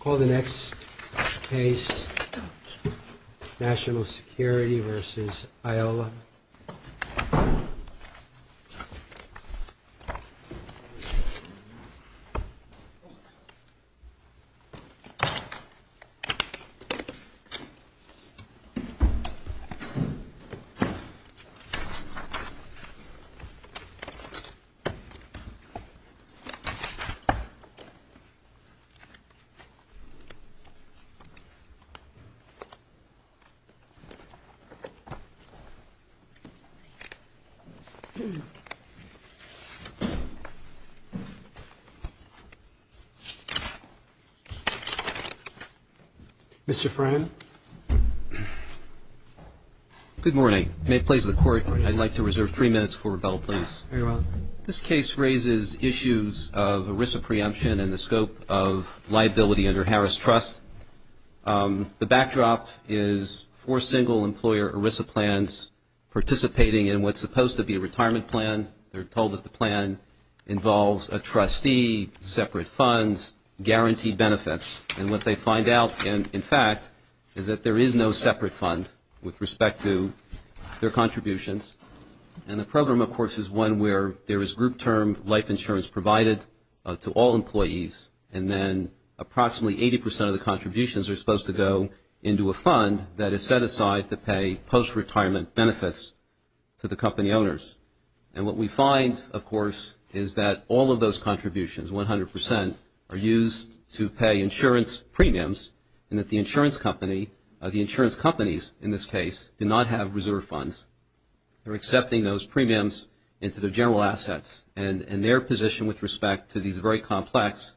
Call the next case, National Security v. Iola. Good morning. May it please the Court, I'd like to reserve three minutes for rebuttal, This case raises issues of ERISA preemption and the scope of liability under Harris Trust. The backdrop is four single-employer ERISA plans participating in what's supposed to be a retirement plan. They're told that the plan involves a trustee, separate funds, guaranteed benefits. And what they find out, in fact, is that there is no separate fund with respect to their contributions. And the program, of course, is one where there is group term life insurance provided to all employees and then approximately 80 percent of the contributions are supposed to go into a fund that is set aside to pay post-retirement benefits to the company owners. And what we find, of course, is that all of those contributions, 100 percent, are used to pay insurance premiums and that the insurance company, the insurance companies in this case, do not have reserve funds. They're accepting those premiums into their general assets. And their position with respect to these very complex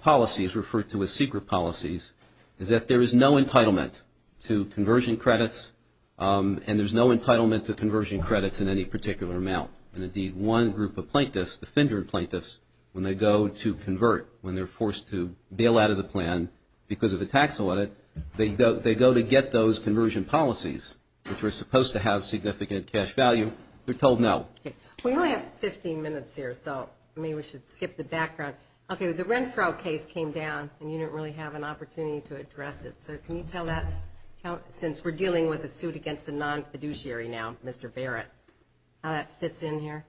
policies referred to as secret policies is that there is no entitlement to conversion credits and there's no entitlement to conversion credits in any particular amount. And indeed, one group of plaintiffs, defender plaintiffs, when they go to convert, when they're forced to bail out of the plan because of a tax audit, they go to get those conversion policies, which are supposed to have significant cash value. They're told no. We only have 15 minutes here, so maybe we should skip the background. Okay, the Renfro case came down and you didn't really have an opportunity to address it. So can you tell that, since we're dealing with a suit against a non-fiduciary now, Mr. Barrett, how that fits in here?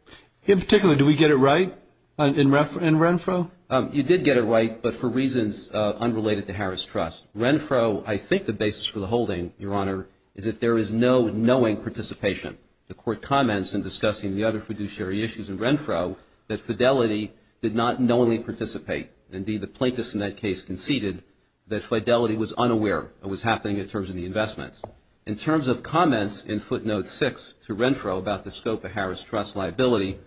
In particular, do we get it right in Renfro? You did get it right, but for reasons unrelated to Harris Trust. Renfro, I think the basis for the holding, Your Honor, is that there is no knowing participation. The Court comments in discussing the other fiduciary issues in Renfro that Fidelity did not knowingly participate. Indeed, the plaintiffs in that case conceded that Fidelity was unaware it was happening in terms of the investments. In terms of comments in footnote six to Renfro about the scope of Harris Trust liability,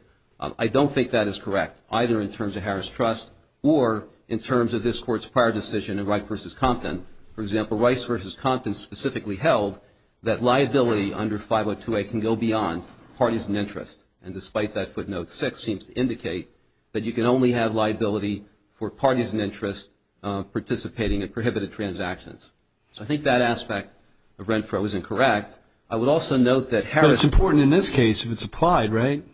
I don't think that is correct, either in terms of Harris Trust or in terms of this Court's prior decision in Rice v. Compton. For example, Rice v. Compton specifically held that liability under 502A can go beyond parties and interests. And despite that, footnote six seems to indicate that you can only have liability for parties and interests participating in prohibited transactions. So I think that aspect of Renfro is incorrect. I would also note that Harris. But it's important in this case if it's applied, right?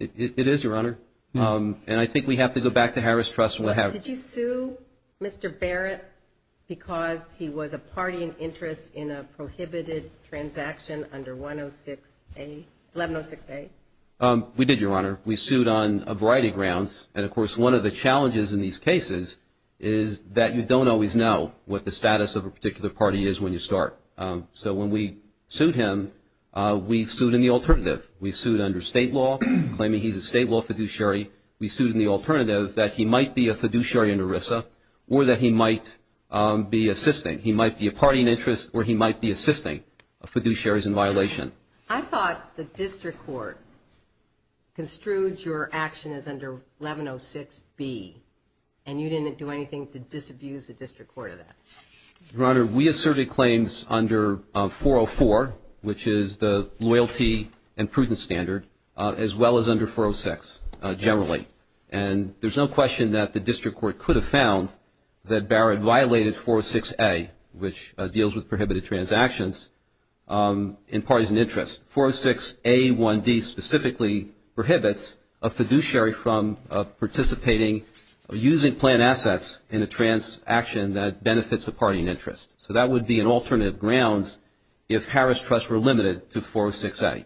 It is, Your Honor. And I think we have to go back to Harris Trust. Did you sue Mr. Barrett because he was a party and interest in a prohibited transaction under 106A, 1106A? We did, Your Honor. We sued on a variety of grounds. And, of course, one of the challenges in these cases is that you don't always know what the status of a particular party is when you start. So when we sued him, we sued in the alternative. We sued under state law, claiming he's a state law fiduciary. We sued in the alternative that he might be a fiduciary in ERISA or that he might be assisting. He might be a party and interest or he might be assisting fiduciaries in violation. I thought the district court construed your action as under 1106B, and you didn't do anything to disabuse the district court of that. Your Honor, we asserted claims under 404, which is the loyalty and prudence standard, as well as under 406 generally. And there's no question that the district court could have found that Barrett violated 406A, which deals with prohibited transactions in parties and interests. 406A1D specifically prohibits a fiduciary from participating or using planned assets in a transaction that benefits a party and interest. So that would be an alternative grounds if Harris Trust were limited to 406A.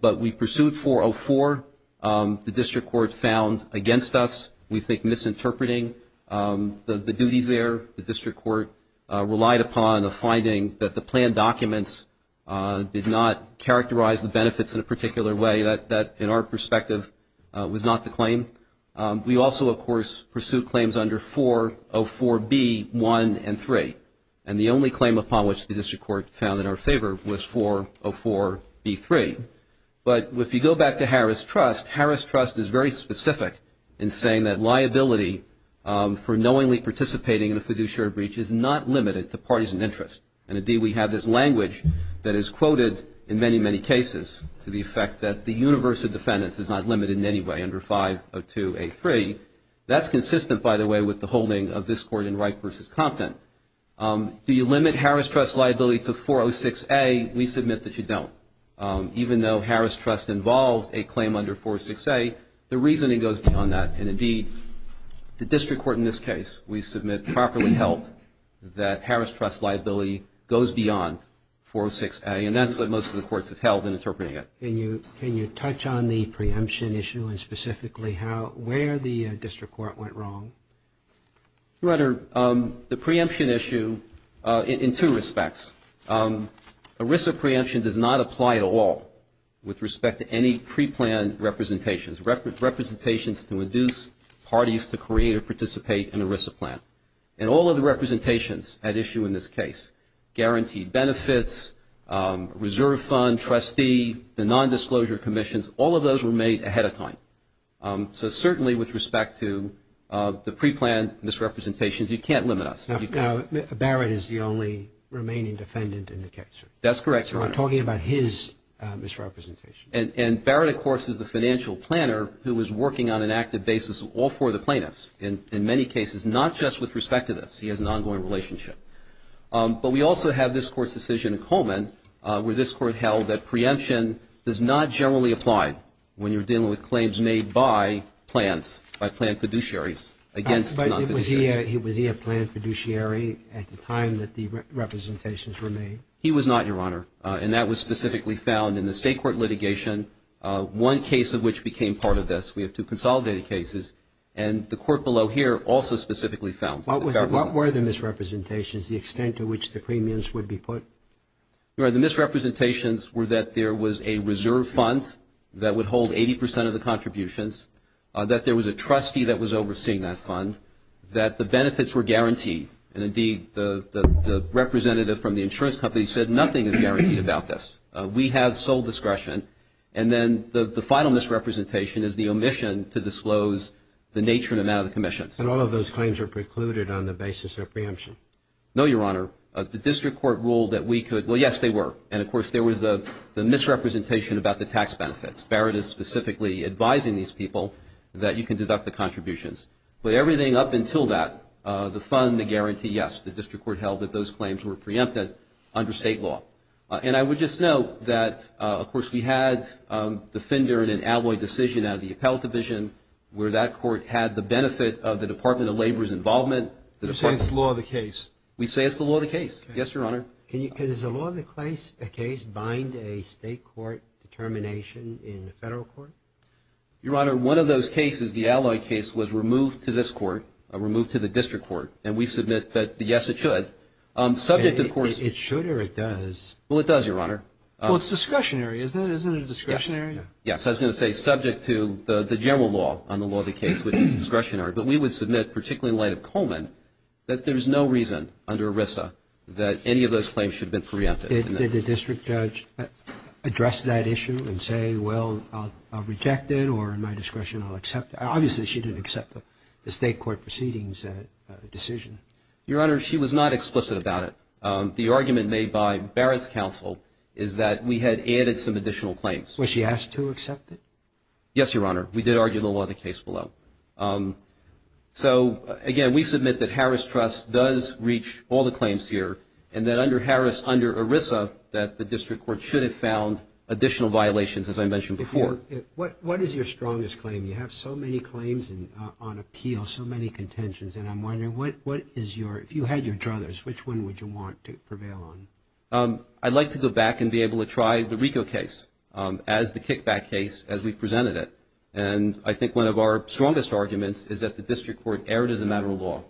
But we pursued 404. The district court found against us, we think, misinterpreting the duties there. The district court relied upon a finding that the planned documents did not characterize the benefits in a particular way. That, in our perspective, was not the claim. We also, of course, pursued claims under 404B1 and 3. And the only claim upon which the district court found in our favor was 404B3. But if you go back to Harris Trust, Harris Trust is very specific in saying that liability for knowingly participating in a fiduciary breach is not limited to parties and interests. And, indeed, we have this language that is quoted in many, many cases to the effect that the universe of defendants is not limited in any way under 502A3. That's consistent, by the way, with the holding of this Court in Wright v. Compton. Do you limit Harris Trust's liability to 406A? We submit that you don't. Even though Harris Trust involved a claim under 406A, the reasoning goes beyond that. And, indeed, the district court in this case, we submit, properly held that Harris Trust's liability goes beyond 406A, and that's what most of the courts have held in interpreting it. Can you touch on the preemption issue and specifically where the district court went wrong? Your Honor, the preemption issue in two respects. ERISA preemption does not apply at all with respect to any preplanned representations, representations to induce parties to create or participate in ERISA plan. And all of the representations at issue in this case, guaranteed benefits, reserve fund, trustee, the nondisclosure commissions, all of those were made ahead of time. So, certainly, with respect to the preplanned misrepresentations, you can't limit us. Now, Barrett is the only remaining defendant in the case. That's correct, Your Honor. So we're talking about his misrepresentation. And Barrett, of course, is the financial planner who is working on an active basis all four of the plaintiffs, in many cases, not just with respect to this. He has an ongoing relationship. But we also have this Court's decision in Coleman where this Court held that preemption does not generally apply when you're dealing with claims made by plans, by planned fiduciaries against non-fiduciaries. Was he a planned fiduciary at the time that the representations were made? He was not, Your Honor. And that was specifically found in the state court litigation, one case of which became part of this. We have two consolidated cases. And the court below here also specifically found. What were the misrepresentations, the extent to which the premiums would be put? Your Honor, the misrepresentations were that there was a reserve fund that would hold 80 percent of the contributions, that there was a trustee that was overseeing that fund, that the benefits were guaranteed. And, indeed, the representative from the insurance company said, nothing is guaranteed about this. We have sole discretion. And then the final misrepresentation is the omission to disclose the nature and amount of the commissions. And all of those claims are precluded on the basis of preemption? No, Your Honor. The district court ruled that we could. Well, yes, they were. And, of course, there was the misrepresentation about the tax benefits. Barrett is specifically advising these people that you can deduct the contributions. But everything up until that, the fund, the guarantee, yes, the district court held that those claims were preempted under state law. And I would just note that, of course, we had the Finder and Alloy decision out of the Appellate Division, where that court had the benefit of the Department of Labor's involvement. You're saying it's the law of the case. We say it's the law of the case. Yes, Your Honor. Does the law of the case bind a state court determination in the federal court? Your Honor, one of those cases, the Alloy case, was removed to this court, removed to the district court. And we submit that, yes, it should. It should or it does? Well, it does, Your Honor. Well, it's discretionary, isn't it? Isn't it a discretionary? Yes, I was going to say subject to the general law on the law of the case, which is discretionary. But we would submit, particularly in light of Coleman, that there's no reason under ERISA that any of those claims should have been preempted. Did the district judge address that issue and say, well, I'll reject it or in my discretion I'll accept it? Obviously, she didn't accept the state court proceedings decision. Your Honor, she was not explicit about it. The argument made by Barrett's counsel is that we had added some additional claims. Was she asked to accept it? Yes, Your Honor. We did argue the law of the case below. So, again, we submit that Harris Trust does reach all the claims here and that under Harris, under ERISA, that the district court should have found additional violations, as I mentioned before. What is your strongest claim? You have so many claims on appeal, so many contentions. And I'm wondering, if you had your druthers, which one would you want to prevail on? I'd like to go back and be able to try the RICO case as the kickback case as we presented it. And I think one of our strongest arguments is that the district court erred as a matter of law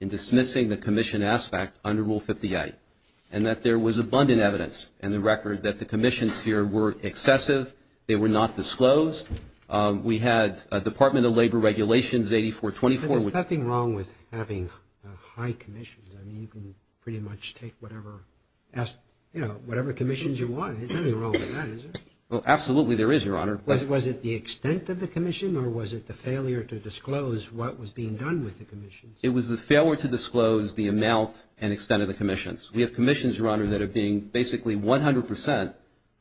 in dismissing the commission aspect under Rule 58, and that there was abundant evidence in the record that the commissions here were excessive. They were not disclosed. We had Department of Labor Regulations 8424. There's nothing wrong with having high commissions. I mean, you can pretty much take whatever commissions you want. There's nothing wrong with that, is there? Well, absolutely there is, Your Honor. Was it the extent of the commission, or was it the failure to disclose what was being done with the commissions? It was the failure to disclose the amount and extent of the commissions. We have commissions, Your Honor, that are being basically 100 percent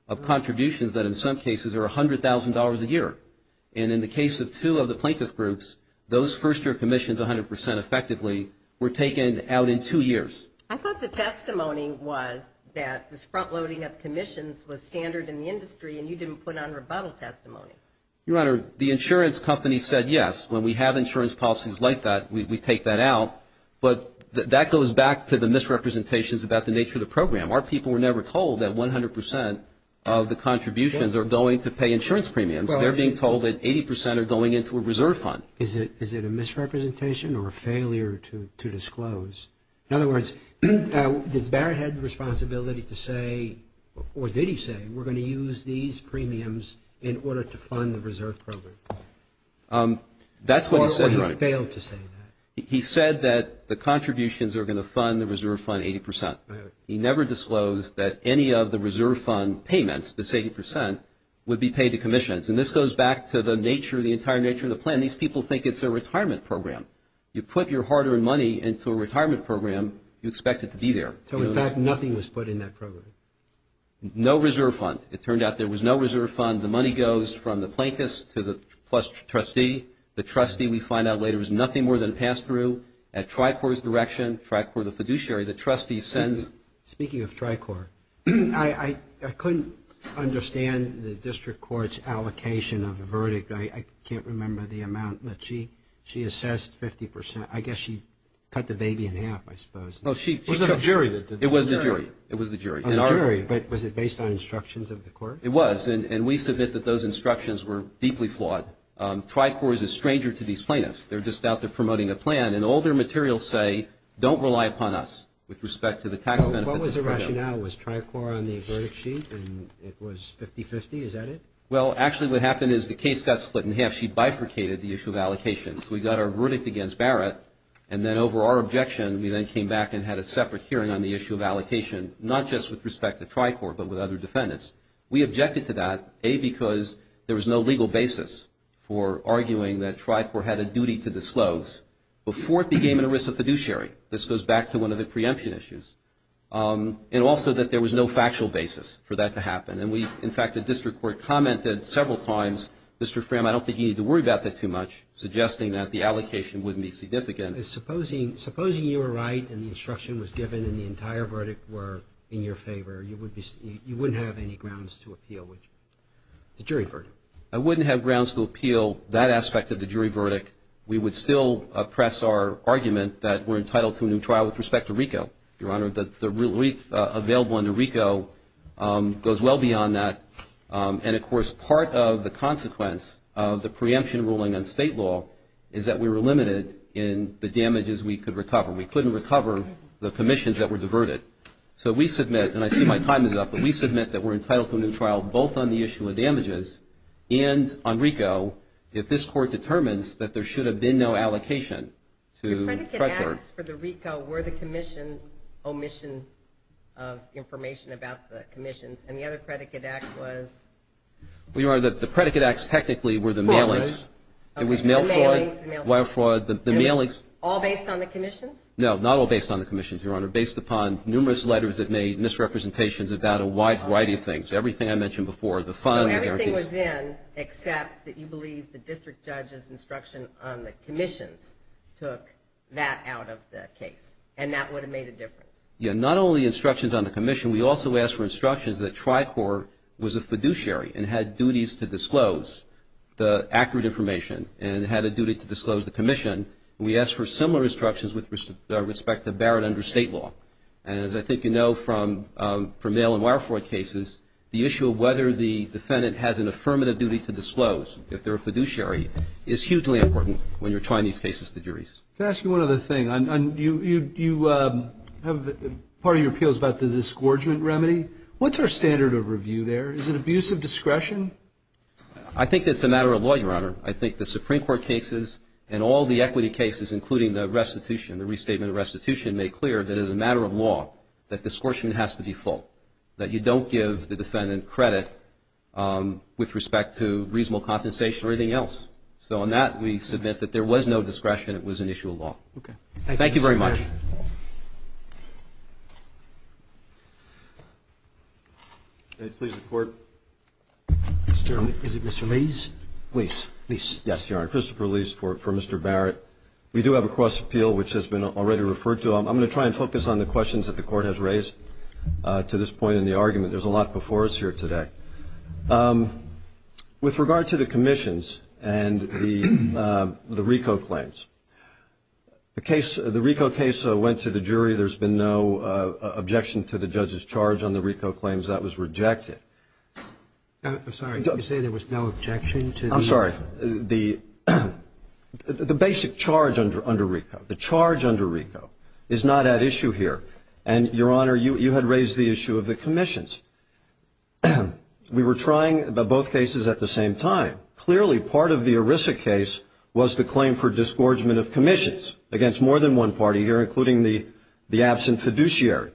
of contributions that, in some cases, are $100,000 a year. And in the case of two of the plaintiff groups, those first-year commissions, 100 percent effectively, were taken out in two years. I thought the testimony was that this front-loading of commissions was standard in the industry and you didn't put on rebuttal testimony. Your Honor, the insurance company said yes. When we have insurance policies like that, we take that out. But that goes back to the misrepresentations about the nature of the program. Our people were never told that 100 percent of the contributions are going to pay insurance premiums. They're being told that 80 percent are going into a reserve fund. Is it a misrepresentation or a failure to disclose? In other words, did Barrett have the responsibility to say, or did he say, we're going to use these premiums in order to fund the reserve program? That's what he said, Your Honor. Or he failed to say that? He said that the contributions are going to fund the reserve fund 80 percent. He never disclosed that any of the reserve fund payments, the 80 percent, would be paid to commissions. And this goes back to the nature, the entire nature of the plan. These people think it's a retirement program. You put your hard-earned money into a retirement program, you expect it to be there. So, in fact, nothing was put in that program? No reserve fund. It turned out there was no reserve fund. The money goes from the plaintiffs to the trustee. The trustee, we find out later, was nothing more than a pass-through. At Tricor's direction, Tricor the fiduciary, the trustee sends. Speaking of Tricor, I couldn't understand the district court's allocation of the verdict. I can't remember the amount, but she assessed 50 percent. I guess she cut the baby in half, I suppose. It was the jury. It was the jury. It was the jury. A jury, but was it based on instructions of the court? It was, and we submit that those instructions were deeply flawed. Tricor is a stranger to these plaintiffs. They're just out there promoting a plan, and all their materials say, don't rely upon us with respect to the tax benefits. So what was the rationale? Was Tricor on the verdict sheet, and it was 50-50? Is that it? Well, actually what happened is the case got split in half. She bifurcated the issue of allocations. We got our verdict against Barrett, and then over our objection, we then came back and had a separate hearing on the issue of allocation, not just with respect to Tricor, but with other defendants. We objected to that, A, because there was no legal basis for arguing that Tricor had a duty to disclose before it became an erisa fiduciary. This goes back to one of the preemption issues. And also that there was no factual basis for that to happen. And we, in fact, the district court commented several times, Mr. Fram, I don't think you need to worry about that too much, suggesting that the allocation wouldn't be significant. Supposing you were right and the instruction was given and the entire verdict were in your favor, you wouldn't have any grounds to appeal the jury verdict. I wouldn't have grounds to appeal that aspect of the jury verdict. We would still press our argument that we're entitled to a new trial with respect to RICO. Your Honor, the relief available under RICO goes well beyond that. And, of course, part of the consequence of the preemption ruling on state law is that we were limited in the damages we could recover. We couldn't recover the commissions that were diverted. So we submit, and I see my time is up, but we submit that we're entitled to a new trial both on the issue of damages and on RICO if this court determines that there should have been no allocation. The predicate acts for the RICO were the commission, omission of information about the commissions. And the other predicate act was? Your Honor, the predicate acts technically were the mailings. It was mail fraud, wire fraud. All based on the commissions? No, not all based on the commissions, Your Honor. They were based upon numerous letters that made misrepresentations about a wide variety of things. Everything I mentioned before, the funds. So everything was in except that you believe the district judge's instruction on the commissions took that out of the case, and that would have made a difference? Yeah, not only instructions on the commission. We also asked for instructions that Tricor was a fiduciary and had duties to disclose the accurate information and had a duty to disclose the commission. We asked for similar instructions with respect to Barrett under state law. And as I think you know from mail and wire fraud cases, the issue of whether the defendant has an affirmative duty to disclose if they're a fiduciary is hugely important when you're trying these cases to juries. Can I ask you one other thing? You have part of your appeals about the disgorgement remedy. What's our standard of review there? Is it abuse of discretion? I think that's a matter of law, Your Honor. I think the Supreme Court cases and all the equity cases, including the restitution, the restatement of restitution, made clear that as a matter of law that disgorgement has to be full, that you don't give the defendant credit with respect to reasonable compensation or anything else. So on that, we submit that there was no discretion. It was an issue of law. Okay. Thank you very much. Please report. Is it Mr. Leese? Yes, Your Honor. Christopher Leese for Mr. Barrett. We do have a cross appeal which has been already referred to. I'm going to try and focus on the questions that the Court has raised to this point in the argument. There's a lot before us here today. With regard to the commissions and the RICO claims, the RICO case went to the jury. There's been no objection to the judge's charge on the RICO claims. That was rejected. I'm sorry. Did you say there was no objection to the? I'm sorry. The basic charge under RICO, the charge under RICO, is not at issue here. And, Your Honor, you had raised the issue of the commissions. We were trying both cases at the same time. Clearly, part of the ERISA case was the claim for disgorgement of commissions against more than one party here, including the absent fiduciary.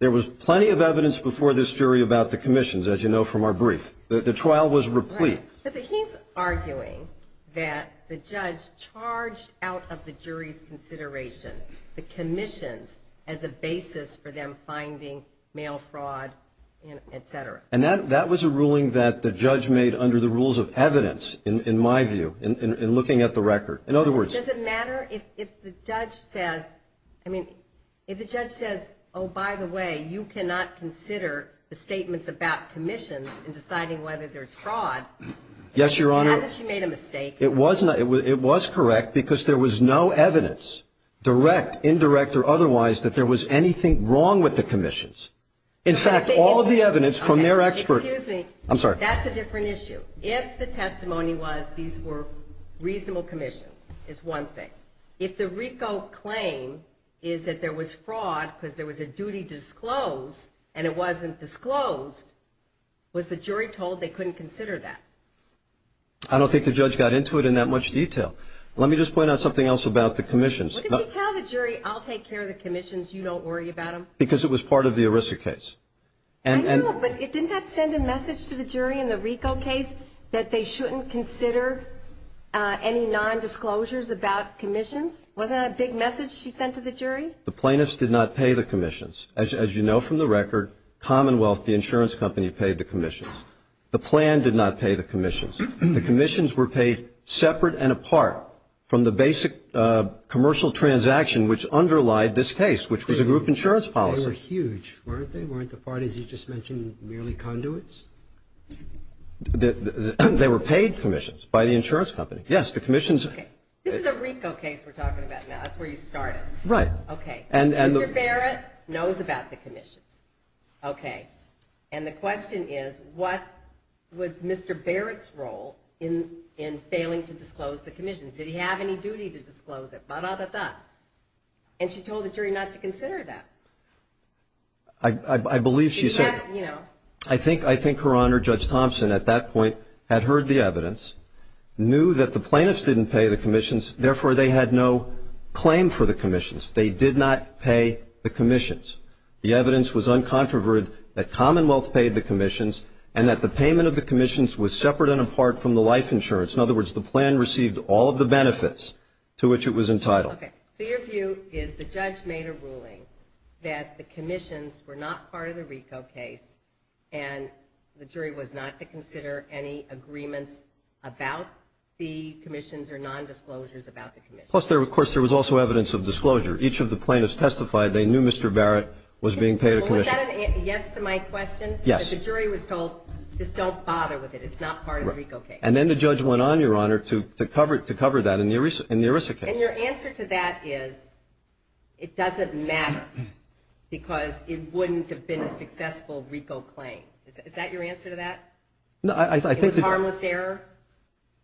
There was plenty of evidence before this jury about the commissions, as you know from our brief. The trial was replete. But he's arguing that the judge charged out of the jury's consideration the commissions as a basis for them finding mail fraud, et cetera. And that was a ruling that the judge made under the rules of evidence, in my view, in looking at the record. In other words. Does it matter if the judge says, I mean, if the judge says, oh, by the way, you cannot consider the statements about commissions in deciding whether there's fraud. Yes, Your Honor. As if she made a mistake. It was correct because there was no evidence, direct, indirect, or otherwise, that there was anything wrong with the commissions. In fact, all of the evidence from their expert. Excuse me. I'm sorry. That's a different issue. If the testimony was these were reasonable commissions is one thing. If the RICO claim is that there was fraud because there was a duty disclosed and it wasn't disclosed, was the jury told they couldn't consider that? I don't think the judge got into it in that much detail. Let me just point out something else about the commissions. What did you tell the jury, I'll take care of the commissions, you don't worry about them? Because it was part of the ERISA case. I know, but didn't that send a message to the jury in the RICO case that they shouldn't consider any nondisclosures about commissions? Wasn't that a big message she sent to the jury? The plaintiffs did not pay the commissions. As you know from the record, Commonwealth, the insurance company, paid the commissions. The plan did not pay the commissions. The commissions were paid separate and apart from the basic commercial transaction, which underlied this case, which was a group insurance policy. They were huge, weren't they? Weren't the parties you just mentioned merely conduits? They were paid commissions by the insurance company. Yes, the commissions. Okay. This is a RICO case we're talking about now. That's where you started. Right. Okay. Mr. Barrett knows about the commissions. Okay. And the question is, what was Mr. Barrett's role in failing to disclose the commissions? Did he have any duty to disclose it? And she told the jury not to consider that. I believe she said that. I think Her Honor, Judge Thompson, at that point had heard the evidence, knew that the plaintiffs didn't pay the commissions, therefore they had no claim for the commissions. They did not pay the commissions. The evidence was uncontroverted that Commonwealth paid the commissions and that the payment of the commissions was separate and apart from the life insurance. In other words, the plan received all of the benefits to which it was entitled. Okay. So your view is the judge made a ruling that the commissions were not part of the RICO case and the jury was not to consider any agreements about the commissions or nondisclosures about the commissions. Plus, of course, there was also evidence of disclosure. Each of the plaintiffs testified they knew Mr. Barrett was being paid a commission. Was that a yes to my question? Yes. The jury was told just don't bother with it. It's not part of the RICO case. And then the judge went on, Your Honor, to cover that in the ERISA case. And your answer to that is it doesn't matter because it wouldn't have been a successful RICO claim. Is that your answer to that? No. Is it harmless error?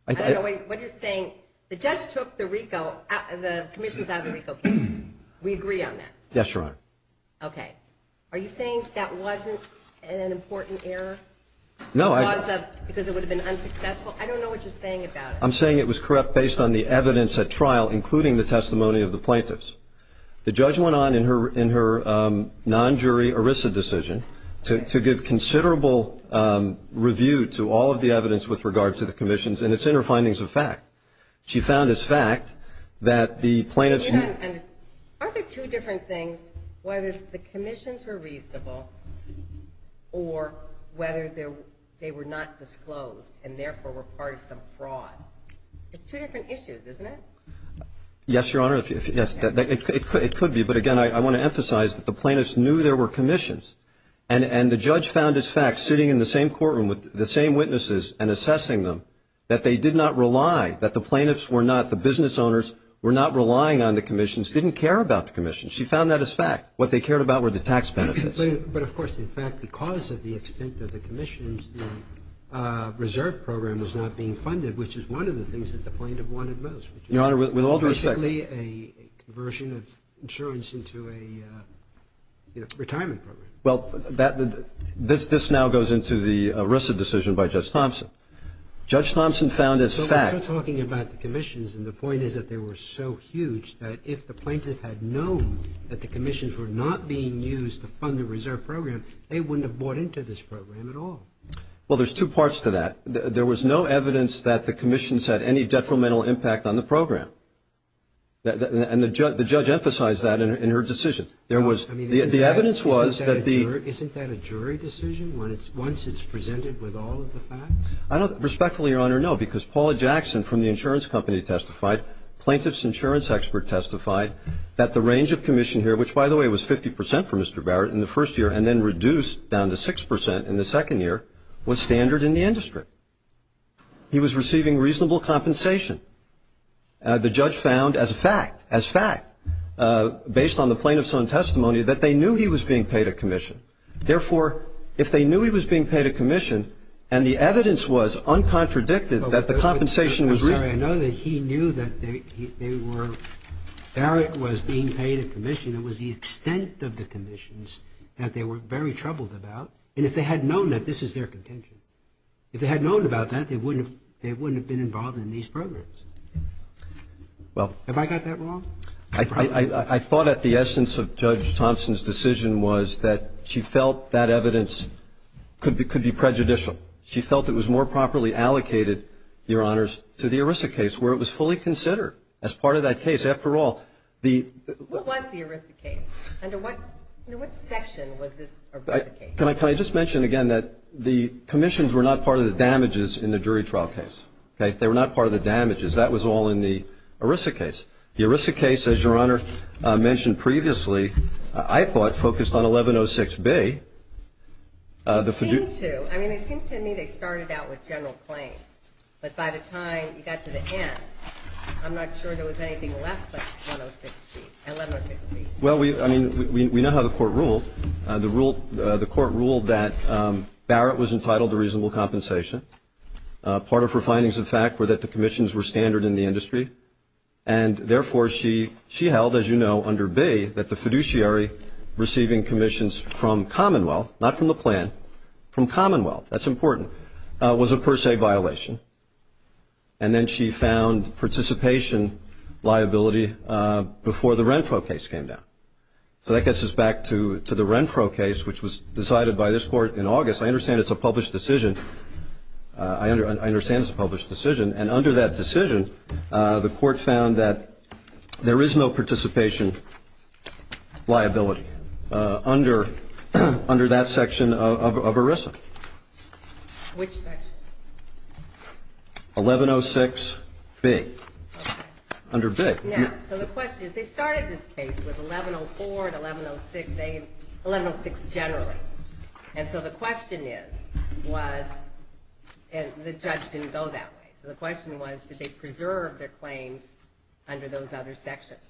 I don't know what you're saying. The judge took the RICO, the commissions out of the RICO case. We agree on that? Yes, Your Honor. Okay. Are you saying that wasn't an important error? No. Because it would have been unsuccessful? I don't know what you're saying about it. I'm saying it was correct based on the evidence at trial, including the testimony of the plaintiffs. The judge went on in her non-jury ERISA decision to give considerable review to all of the evidence with regard to the commissions, and it's in her findings of fact. She found as fact that the plaintiffs ---- Aren't there two different things, whether the commissions were reasonable or whether they were not disclosed and, therefore, were part of some fraud? It's two different issues, isn't it? Yes, Your Honor. It could be. But, again, I want to emphasize that the plaintiffs knew there were commissions. And the judge found as fact, sitting in the same courtroom with the same witnesses and assessing them, that they did not rely, that the plaintiffs were not, the business owners were not relying on the commissions, didn't care about the commissions. She found that as fact. What they cared about were the tax benefits. But, of course, in fact, because of the extent of the commissions, the reserve program was not being funded, which is one of the things that the plaintiff wanted most. Your Honor, with all due respect ---- Basically a conversion of insurance into a retirement program. Well, this now goes into the ERISA decision by Judge Thompson. Judge Thompson found as fact ---- You're talking about the commissions, and the point is that they were so huge that if the plaintiff had known that the commissions were not being used to fund the reserve program, they wouldn't have bought into this program at all. Well, there's two parts to that. There was no evidence that the commissions had any detrimental impact on the program. And the judge emphasized that in her decision. The evidence was that the ---- I don't respectfully, Your Honor, know because Paula Jackson from the insurance company testified, plaintiff's insurance expert testified, that the range of commission here, which, by the way, was 50 percent for Mr. Barrett in the first year and then reduced down to 6 percent in the second year, was standard in the industry. He was receiving reasonable compensation. The judge found as a fact, as fact, based on the plaintiff's own testimony, that they knew he was being paid a commission. Therefore, if they knew he was being paid a commission, and the evidence was uncontradicted that the compensation was ---- I'm sorry. I know that he knew that they were ---- Barrett was being paid a commission. It was the extent of the commissions that they were very troubled about. And if they had known that, this is their contention. If they had known about that, they wouldn't have been involved in these programs. Well ---- Have I got that wrong? I thought that the essence of Judge Thompson's decision was that she felt that evidence could be prejudicial. She felt it was more properly allocated, Your Honors, to the ERISA case, where it was fully considered as part of that case. After all, the ---- What was the ERISA case? Under what section was this ERISA case? Can I just mention again that the commissions were not part of the damages in the jury trial case. Okay? They were not part of the damages. That was all in the ERISA case. The ERISA case, as Your Honor mentioned previously, I thought focused on 1106B. It seemed to. I mean, it seems to me they started out with general claims. But by the time you got to the end, I'm not sure there was anything left but 1106B. Well, I mean, we know how the court ruled. The court ruled that Barrett was entitled to reasonable compensation. Part of her findings, in fact, were that the commissions were standard in the industry. And, therefore, she held, as you know, under B, that the fiduciary receiving commissions from Commonwealth, not from the plan, from Commonwealth, that's important, was a per se violation. And then she found participation liability before the Renfro case came down. So that gets us back to the Renfro case, which was decided by this court in August. I understand it's a published decision. I understand it's a published decision. And under that decision, the court found that there is no participation liability under that section of ERISA. Which section? 1106B. Okay. Under B. Now, so the question is, they started this case with 1104 and 1106A and 1106 generally. And so the question is, was, and the judge didn't go that way. So the question was, did they preserve their claims under those other sections?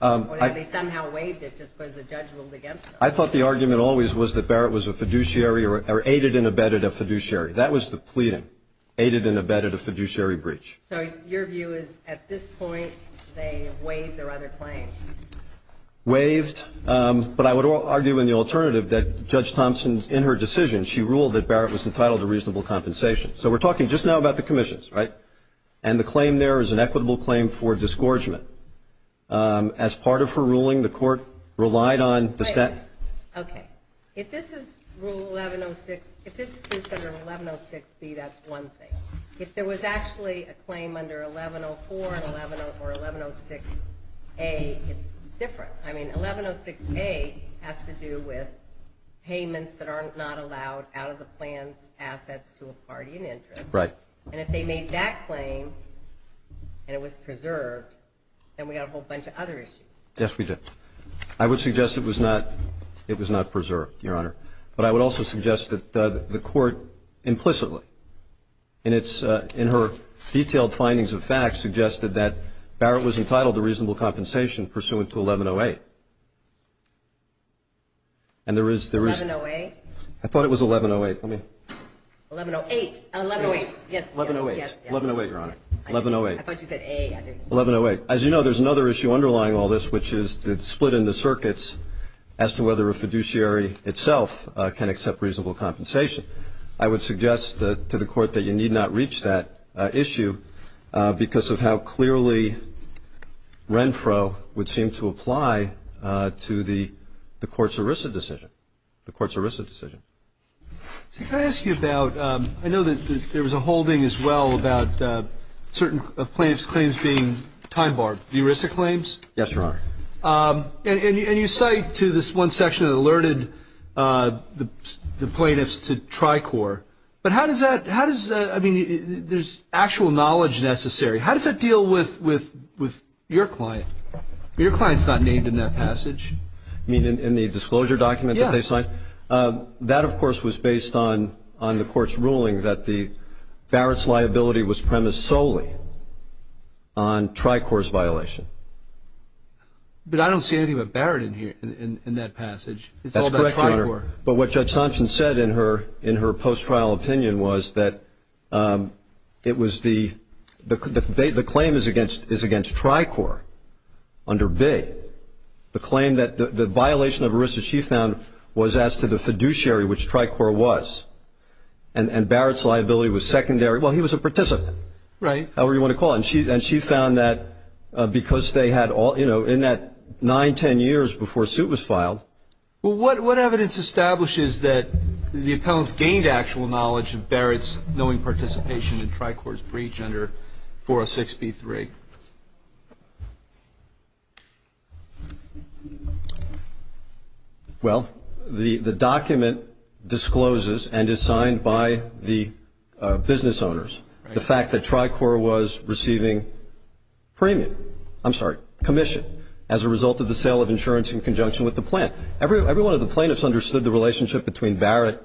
Or did they somehow waive it just because the judge ruled against them? I thought the argument always was that Barrett was a fiduciary or aided and abetted a fiduciary. That was the pleading, aided and abetted a fiduciary breach. So your view is, at this point, they waived their other claims. Waived. But I would argue in the alternative that Judge Thompson, in her decision, she ruled that Barrett was entitled to reasonable compensation. So we're talking just now about the commissions, right? And the claim there is an equitable claim for disgorgement. As part of her ruling, the court relied on the statute. Okay. If this is rule 1106, if this suits under 1106B, that's one thing. If there was actually a claim under 1104 or 1106A, it's different. I mean, 1106A has to do with payments that are not allowed out of the plan's assets to a party in interest. Right. And if they made that claim and it was preserved, then we've got a whole bunch of other issues. Yes, we do. I would suggest it was not preserved, Your Honor. But I would also suggest that the court implicitly, in her detailed findings of facts, suggested that Barrett was entitled to reasonable compensation pursuant to 1108. And there is the reason. 1108? I thought it was 1108. Let me. 1108. 1108. Yes. 1108. 1108, Your Honor. I thought you said A. 1108. As you know, there's another issue underlying all this, which is the split in the circuits as to whether a fiduciary itself can accept reasonable compensation. I would suggest to the court that you need not reach that issue because of how clearly Renfro would seem to apply to the court's ERISA decision, the court's ERISA decision. See, can I ask you about ‑‑ I know that there was a holding as well about certain plaintiffs' claims being time-barred, the ERISA claims. Yes, Your Honor. And you cite to this one section that alerted the plaintiffs to Tricor. But how does that ‑‑ I mean, there's actual knowledge necessary. How does that deal with your client? Your client's not named in that passage. I mean, in the disclosure document that they signed? Yeah. That, of course, was based on the court's ruling that Barrett's liability was premised solely on Tricor's violation. But I don't see anything about Barrett in that passage. That's correct, Your Honor. It's all about Tricor. But what Judge Thompson said in her post-trial opinion was that it was the ‑‑ the claim is against Tricor under B. The claim that the violation of ERISA, she found, was as to the fiduciary, which Tricor was. And Barrett's liability was secondary. Well, he was a participant. Right. However you want to call it. And she found that because they had all ‑‑ you know, in that 9, 10 years before a suit was filed. Well, what evidence establishes that the appellants gained actual knowledge of Barrett's knowing participation in Tricor's breach under 406B3? Well, the document discloses and is signed by the business owners the fact that Tricor was receiving premium. I'm sorry, commission, as a result of the sale of insurance in conjunction with the plant. Every one of the plaintiffs understood the relationship between Barrett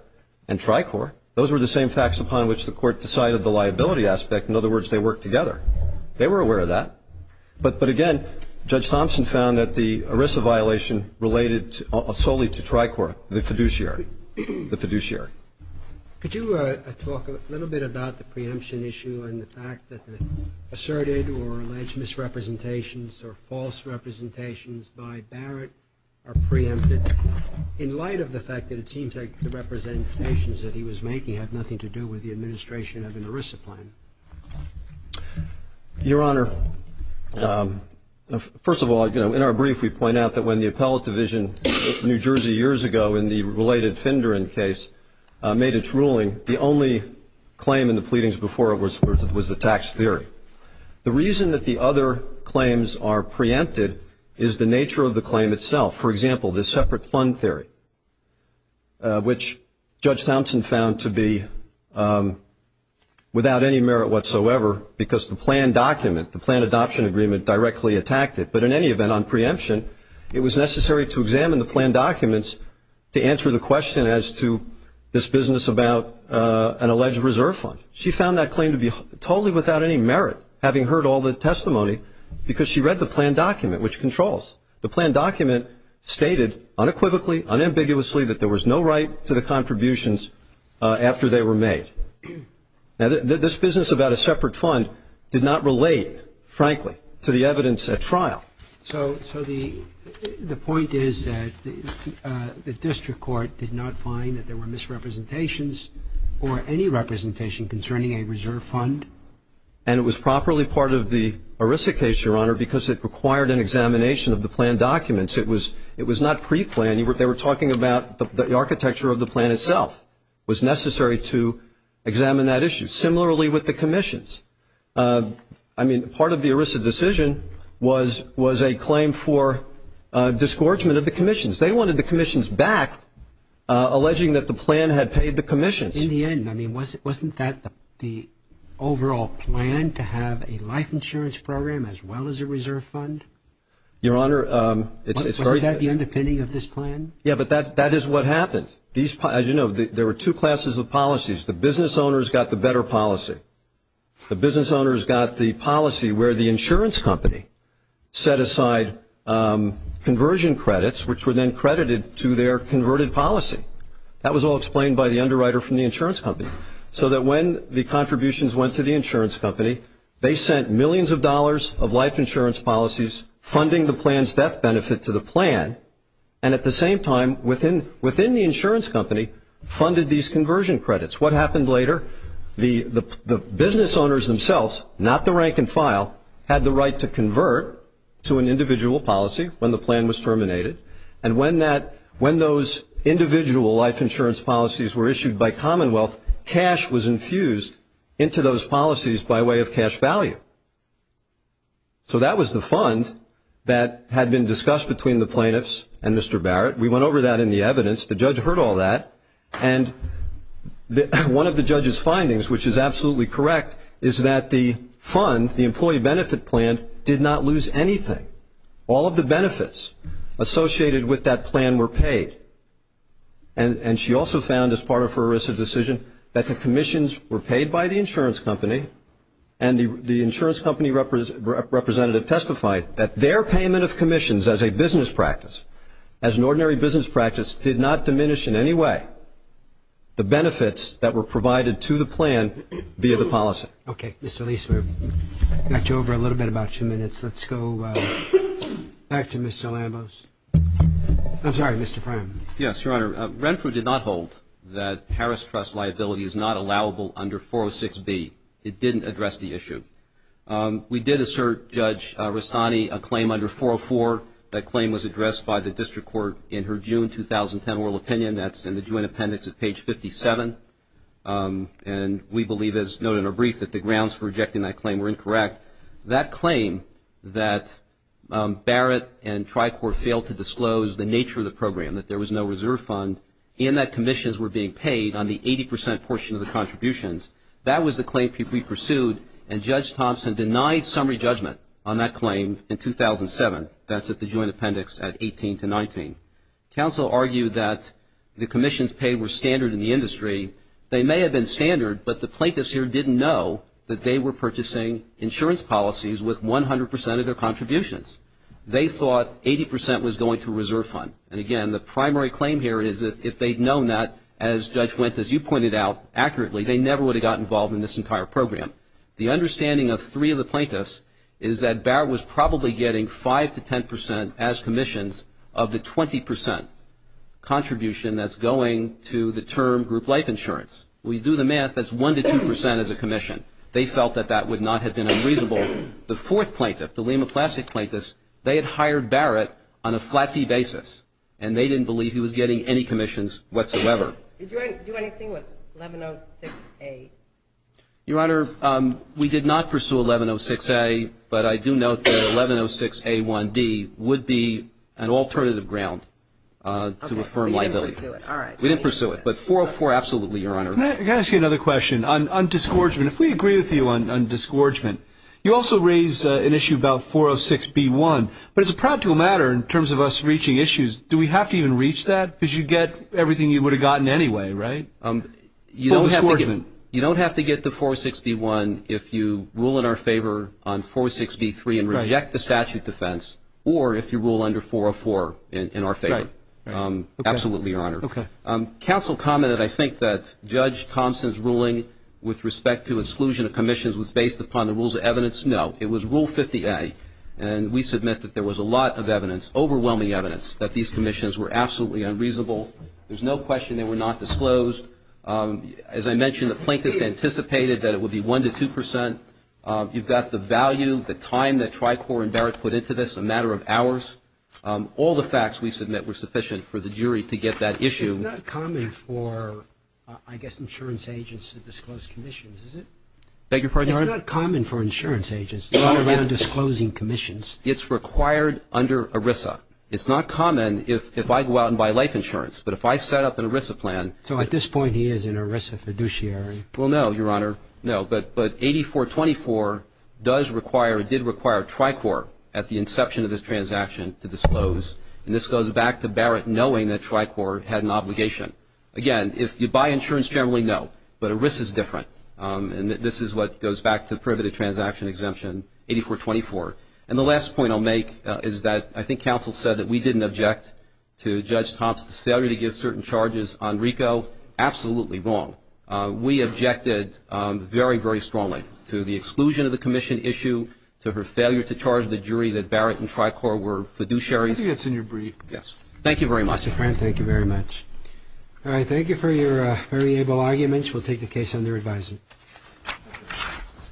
and Tricor. Those were the same facts upon which the court decided the liability aspect. In other words, they worked together. They were aware of that. But again, Judge Thompson found that the ERISA violation related solely to Tricor, the fiduciary. Could you talk a little bit about the preemption issue and the fact that the asserted or alleged misrepresentations or false representations by Barrett are preempted in light of the fact that it seems like the representations that he was making had nothing to do with the administration of an ERISA plan? Your Honor, first of all, you know, in our brief we point out that when the appellate division in New Jersey years ago in the related Findren case made its ruling, the only claim in the pleadings before it was the tax theory. The reason that the other claims are preempted is the nature of the claim itself. For example, the separate fund theory, which Judge Thompson found to be without any merit whatsoever because the plan document, the plan adoption agreement directly attacked it. But in any event, on preemption, it was necessary to examine the plan documents to answer the question as to this business about an alleged reserve fund. She found that claim to be totally without any merit, having heard all the testimony, because she read the plan document, which controls. The plan document stated unequivocally, unambiguously, that there was no right to the contributions after they were made. Now, this business about a separate fund did not relate, frankly, to the evidence at trial. So the point is that the district court did not find that there were misrepresentations or any representation concerning a reserve fund? And it was properly part of the ERISA case, Your Honor, because it required an examination of the plan documents. It was not preplanned. They were talking about the architecture of the plan itself was necessary to examine that issue, similarly with the commissions. I mean, part of the ERISA decision was a claim for disgorgement of the commissions. They wanted the commissions back, alleging that the plan had paid the commissions. In the end, I mean, wasn't that the overall plan, to have a life insurance program as well as a reserve fund? Your Honor, it's very clear. Wasn't that the underpinning of this plan? Yeah, but that is what happened. As you know, there were two classes of policies. The business owners got the better policy. The business owners got the policy where the insurance company set aside conversion credits, which were then credited to their converted policy. That was all explained by the underwriter from the insurance company, so that when the contributions went to the insurance company, they sent millions of dollars of life insurance policies funding the plan's death benefit to the plan, and at the same time, within the insurance company, funded these conversion credits. What happened later? The business owners themselves, not the rank and file, had the right to convert to an individual policy when the plan was terminated, and when those individual life insurance policies were issued by Commonwealth, cash was infused into those policies by way of cash value. So that was the fund that had been discussed between the plaintiffs and Mr. Barrett. We went over that in the evidence. The judge heard all that, and one of the judge's findings, which is absolutely correct, is that the fund, the employee benefit plan, did not lose anything. All of the benefits associated with that plan were paid, and she also found as part of her ERISA decision that the commissions were paid by the insurance company, and the insurance company representative testified that their payment of commissions as a business practice, as an ordinary business practice, did not diminish in any way the benefits that were provided to the plan via the policy. Okay. Mr. Leesburg, we've got you over a little bit, about two minutes. Let's go back to Mr. Lambos. I'm sorry, Mr. Fram. Yes, Your Honor. Renfrew did not hold that Harris Trust liability is not allowable under 406B. It didn't address the issue. We did assert, Judge Rastani, a claim under 404. That claim was addressed by the district court in her June 2010 oral opinion. That's in the joint appendix at page 57. And we believe, as noted in our brief, that the grounds for rejecting that claim were incorrect. That claim that Barrett and TriCorp failed to disclose the nature of the program, that there was no reserve fund, and that commissions were being paid on the 80% portion of the contributions, that was the claim we pursued, and Judge Thompson denied summary judgment on that claim in 2007. That's at the joint appendix at 18 to 19. Counsel argued that the commissions paid were standard in the industry. They may have been standard, but the plaintiffs here didn't know that they were purchasing insurance policies with 100% of their contributions. They thought 80% was going to a reserve fund. And, again, the primary claim here is that if they'd known that, as Judge Wendt, as you pointed out, accurately, they never would have gotten involved in this entire program. The understanding of three of the plaintiffs is that Barrett was probably getting 5% to 10% as commissions of the 20% contribution that's going to the term group life insurance. We do the math. That's 1% to 2% as a commission. They felt that that would not have been unreasonable. The fourth plaintiff, the Lima Classic plaintiffs, they had hired Barrett on a flat fee basis, and they didn't believe he was getting any commissions whatsoever. Did you do anything with 1106A? Your Honor, we did not pursue 1106A, but I do note that 1106A1D would be an alternative ground to affirm liability. We didn't pursue it, but 404, absolutely, Your Honor. Can I ask you another question? On disgorgement, if we agree with you on disgorgement, you also raise an issue about 406B1. But as a practical matter, in terms of us reaching issues, do we have to even reach that? Because you get everything you would have gotten anyway, right? You don't have to get to 406B1 if you rule in our favor on 406B3 and reject the statute defense, or if you rule under 404 in our favor. Right. Absolutely, Your Honor. Okay. Counsel commented, I think, that Judge Thompson's ruling with respect to exclusion of commissions was based upon the rules of evidence. No. It was Rule 50A, and we submit that there was a lot of evidence, overwhelming evidence, that these commissions were absolutely unreasonable. There's no question they were not disclosed. As I mentioned, the plaintiffs anticipated that it would be 1 to 2 percent. You've got the value, the time that Tricor and Barrett put into this, a matter of hours. All the facts we submit were sufficient for the jury to get that issue. It's not common for, I guess, insurance agents to disclose commissions, is it? Beg your pardon? It's not common for insurance agents to go around disclosing commissions. It's required under ERISA. It's not common if I go out and buy life insurance, but if I set up an ERISA plan. So at this point he is an ERISA fiduciary. Well, no, Your Honor, no. But 8424 does require, did require Tricor at the inception of this transaction to disclose, and this goes back to Barrett knowing that Tricor had an obligation. Again, if you buy insurance generally, no, but ERISA is different, and this is what goes back to privy to transaction exemption, 8424. And the last point I'll make is that I think counsel said that we didn't object to Judge Thompson's failure to give certain charges on RICO. Absolutely wrong. We objected very, very strongly to the exclusion of the commission issue, to her failure to charge the jury that Barrett and Tricor were fiduciaries. I think that's in your brief. Yes. Thank you very much. Mr. Friend, thank you very much. All right. Thank you for your very able arguments. We'll take the case under advisement.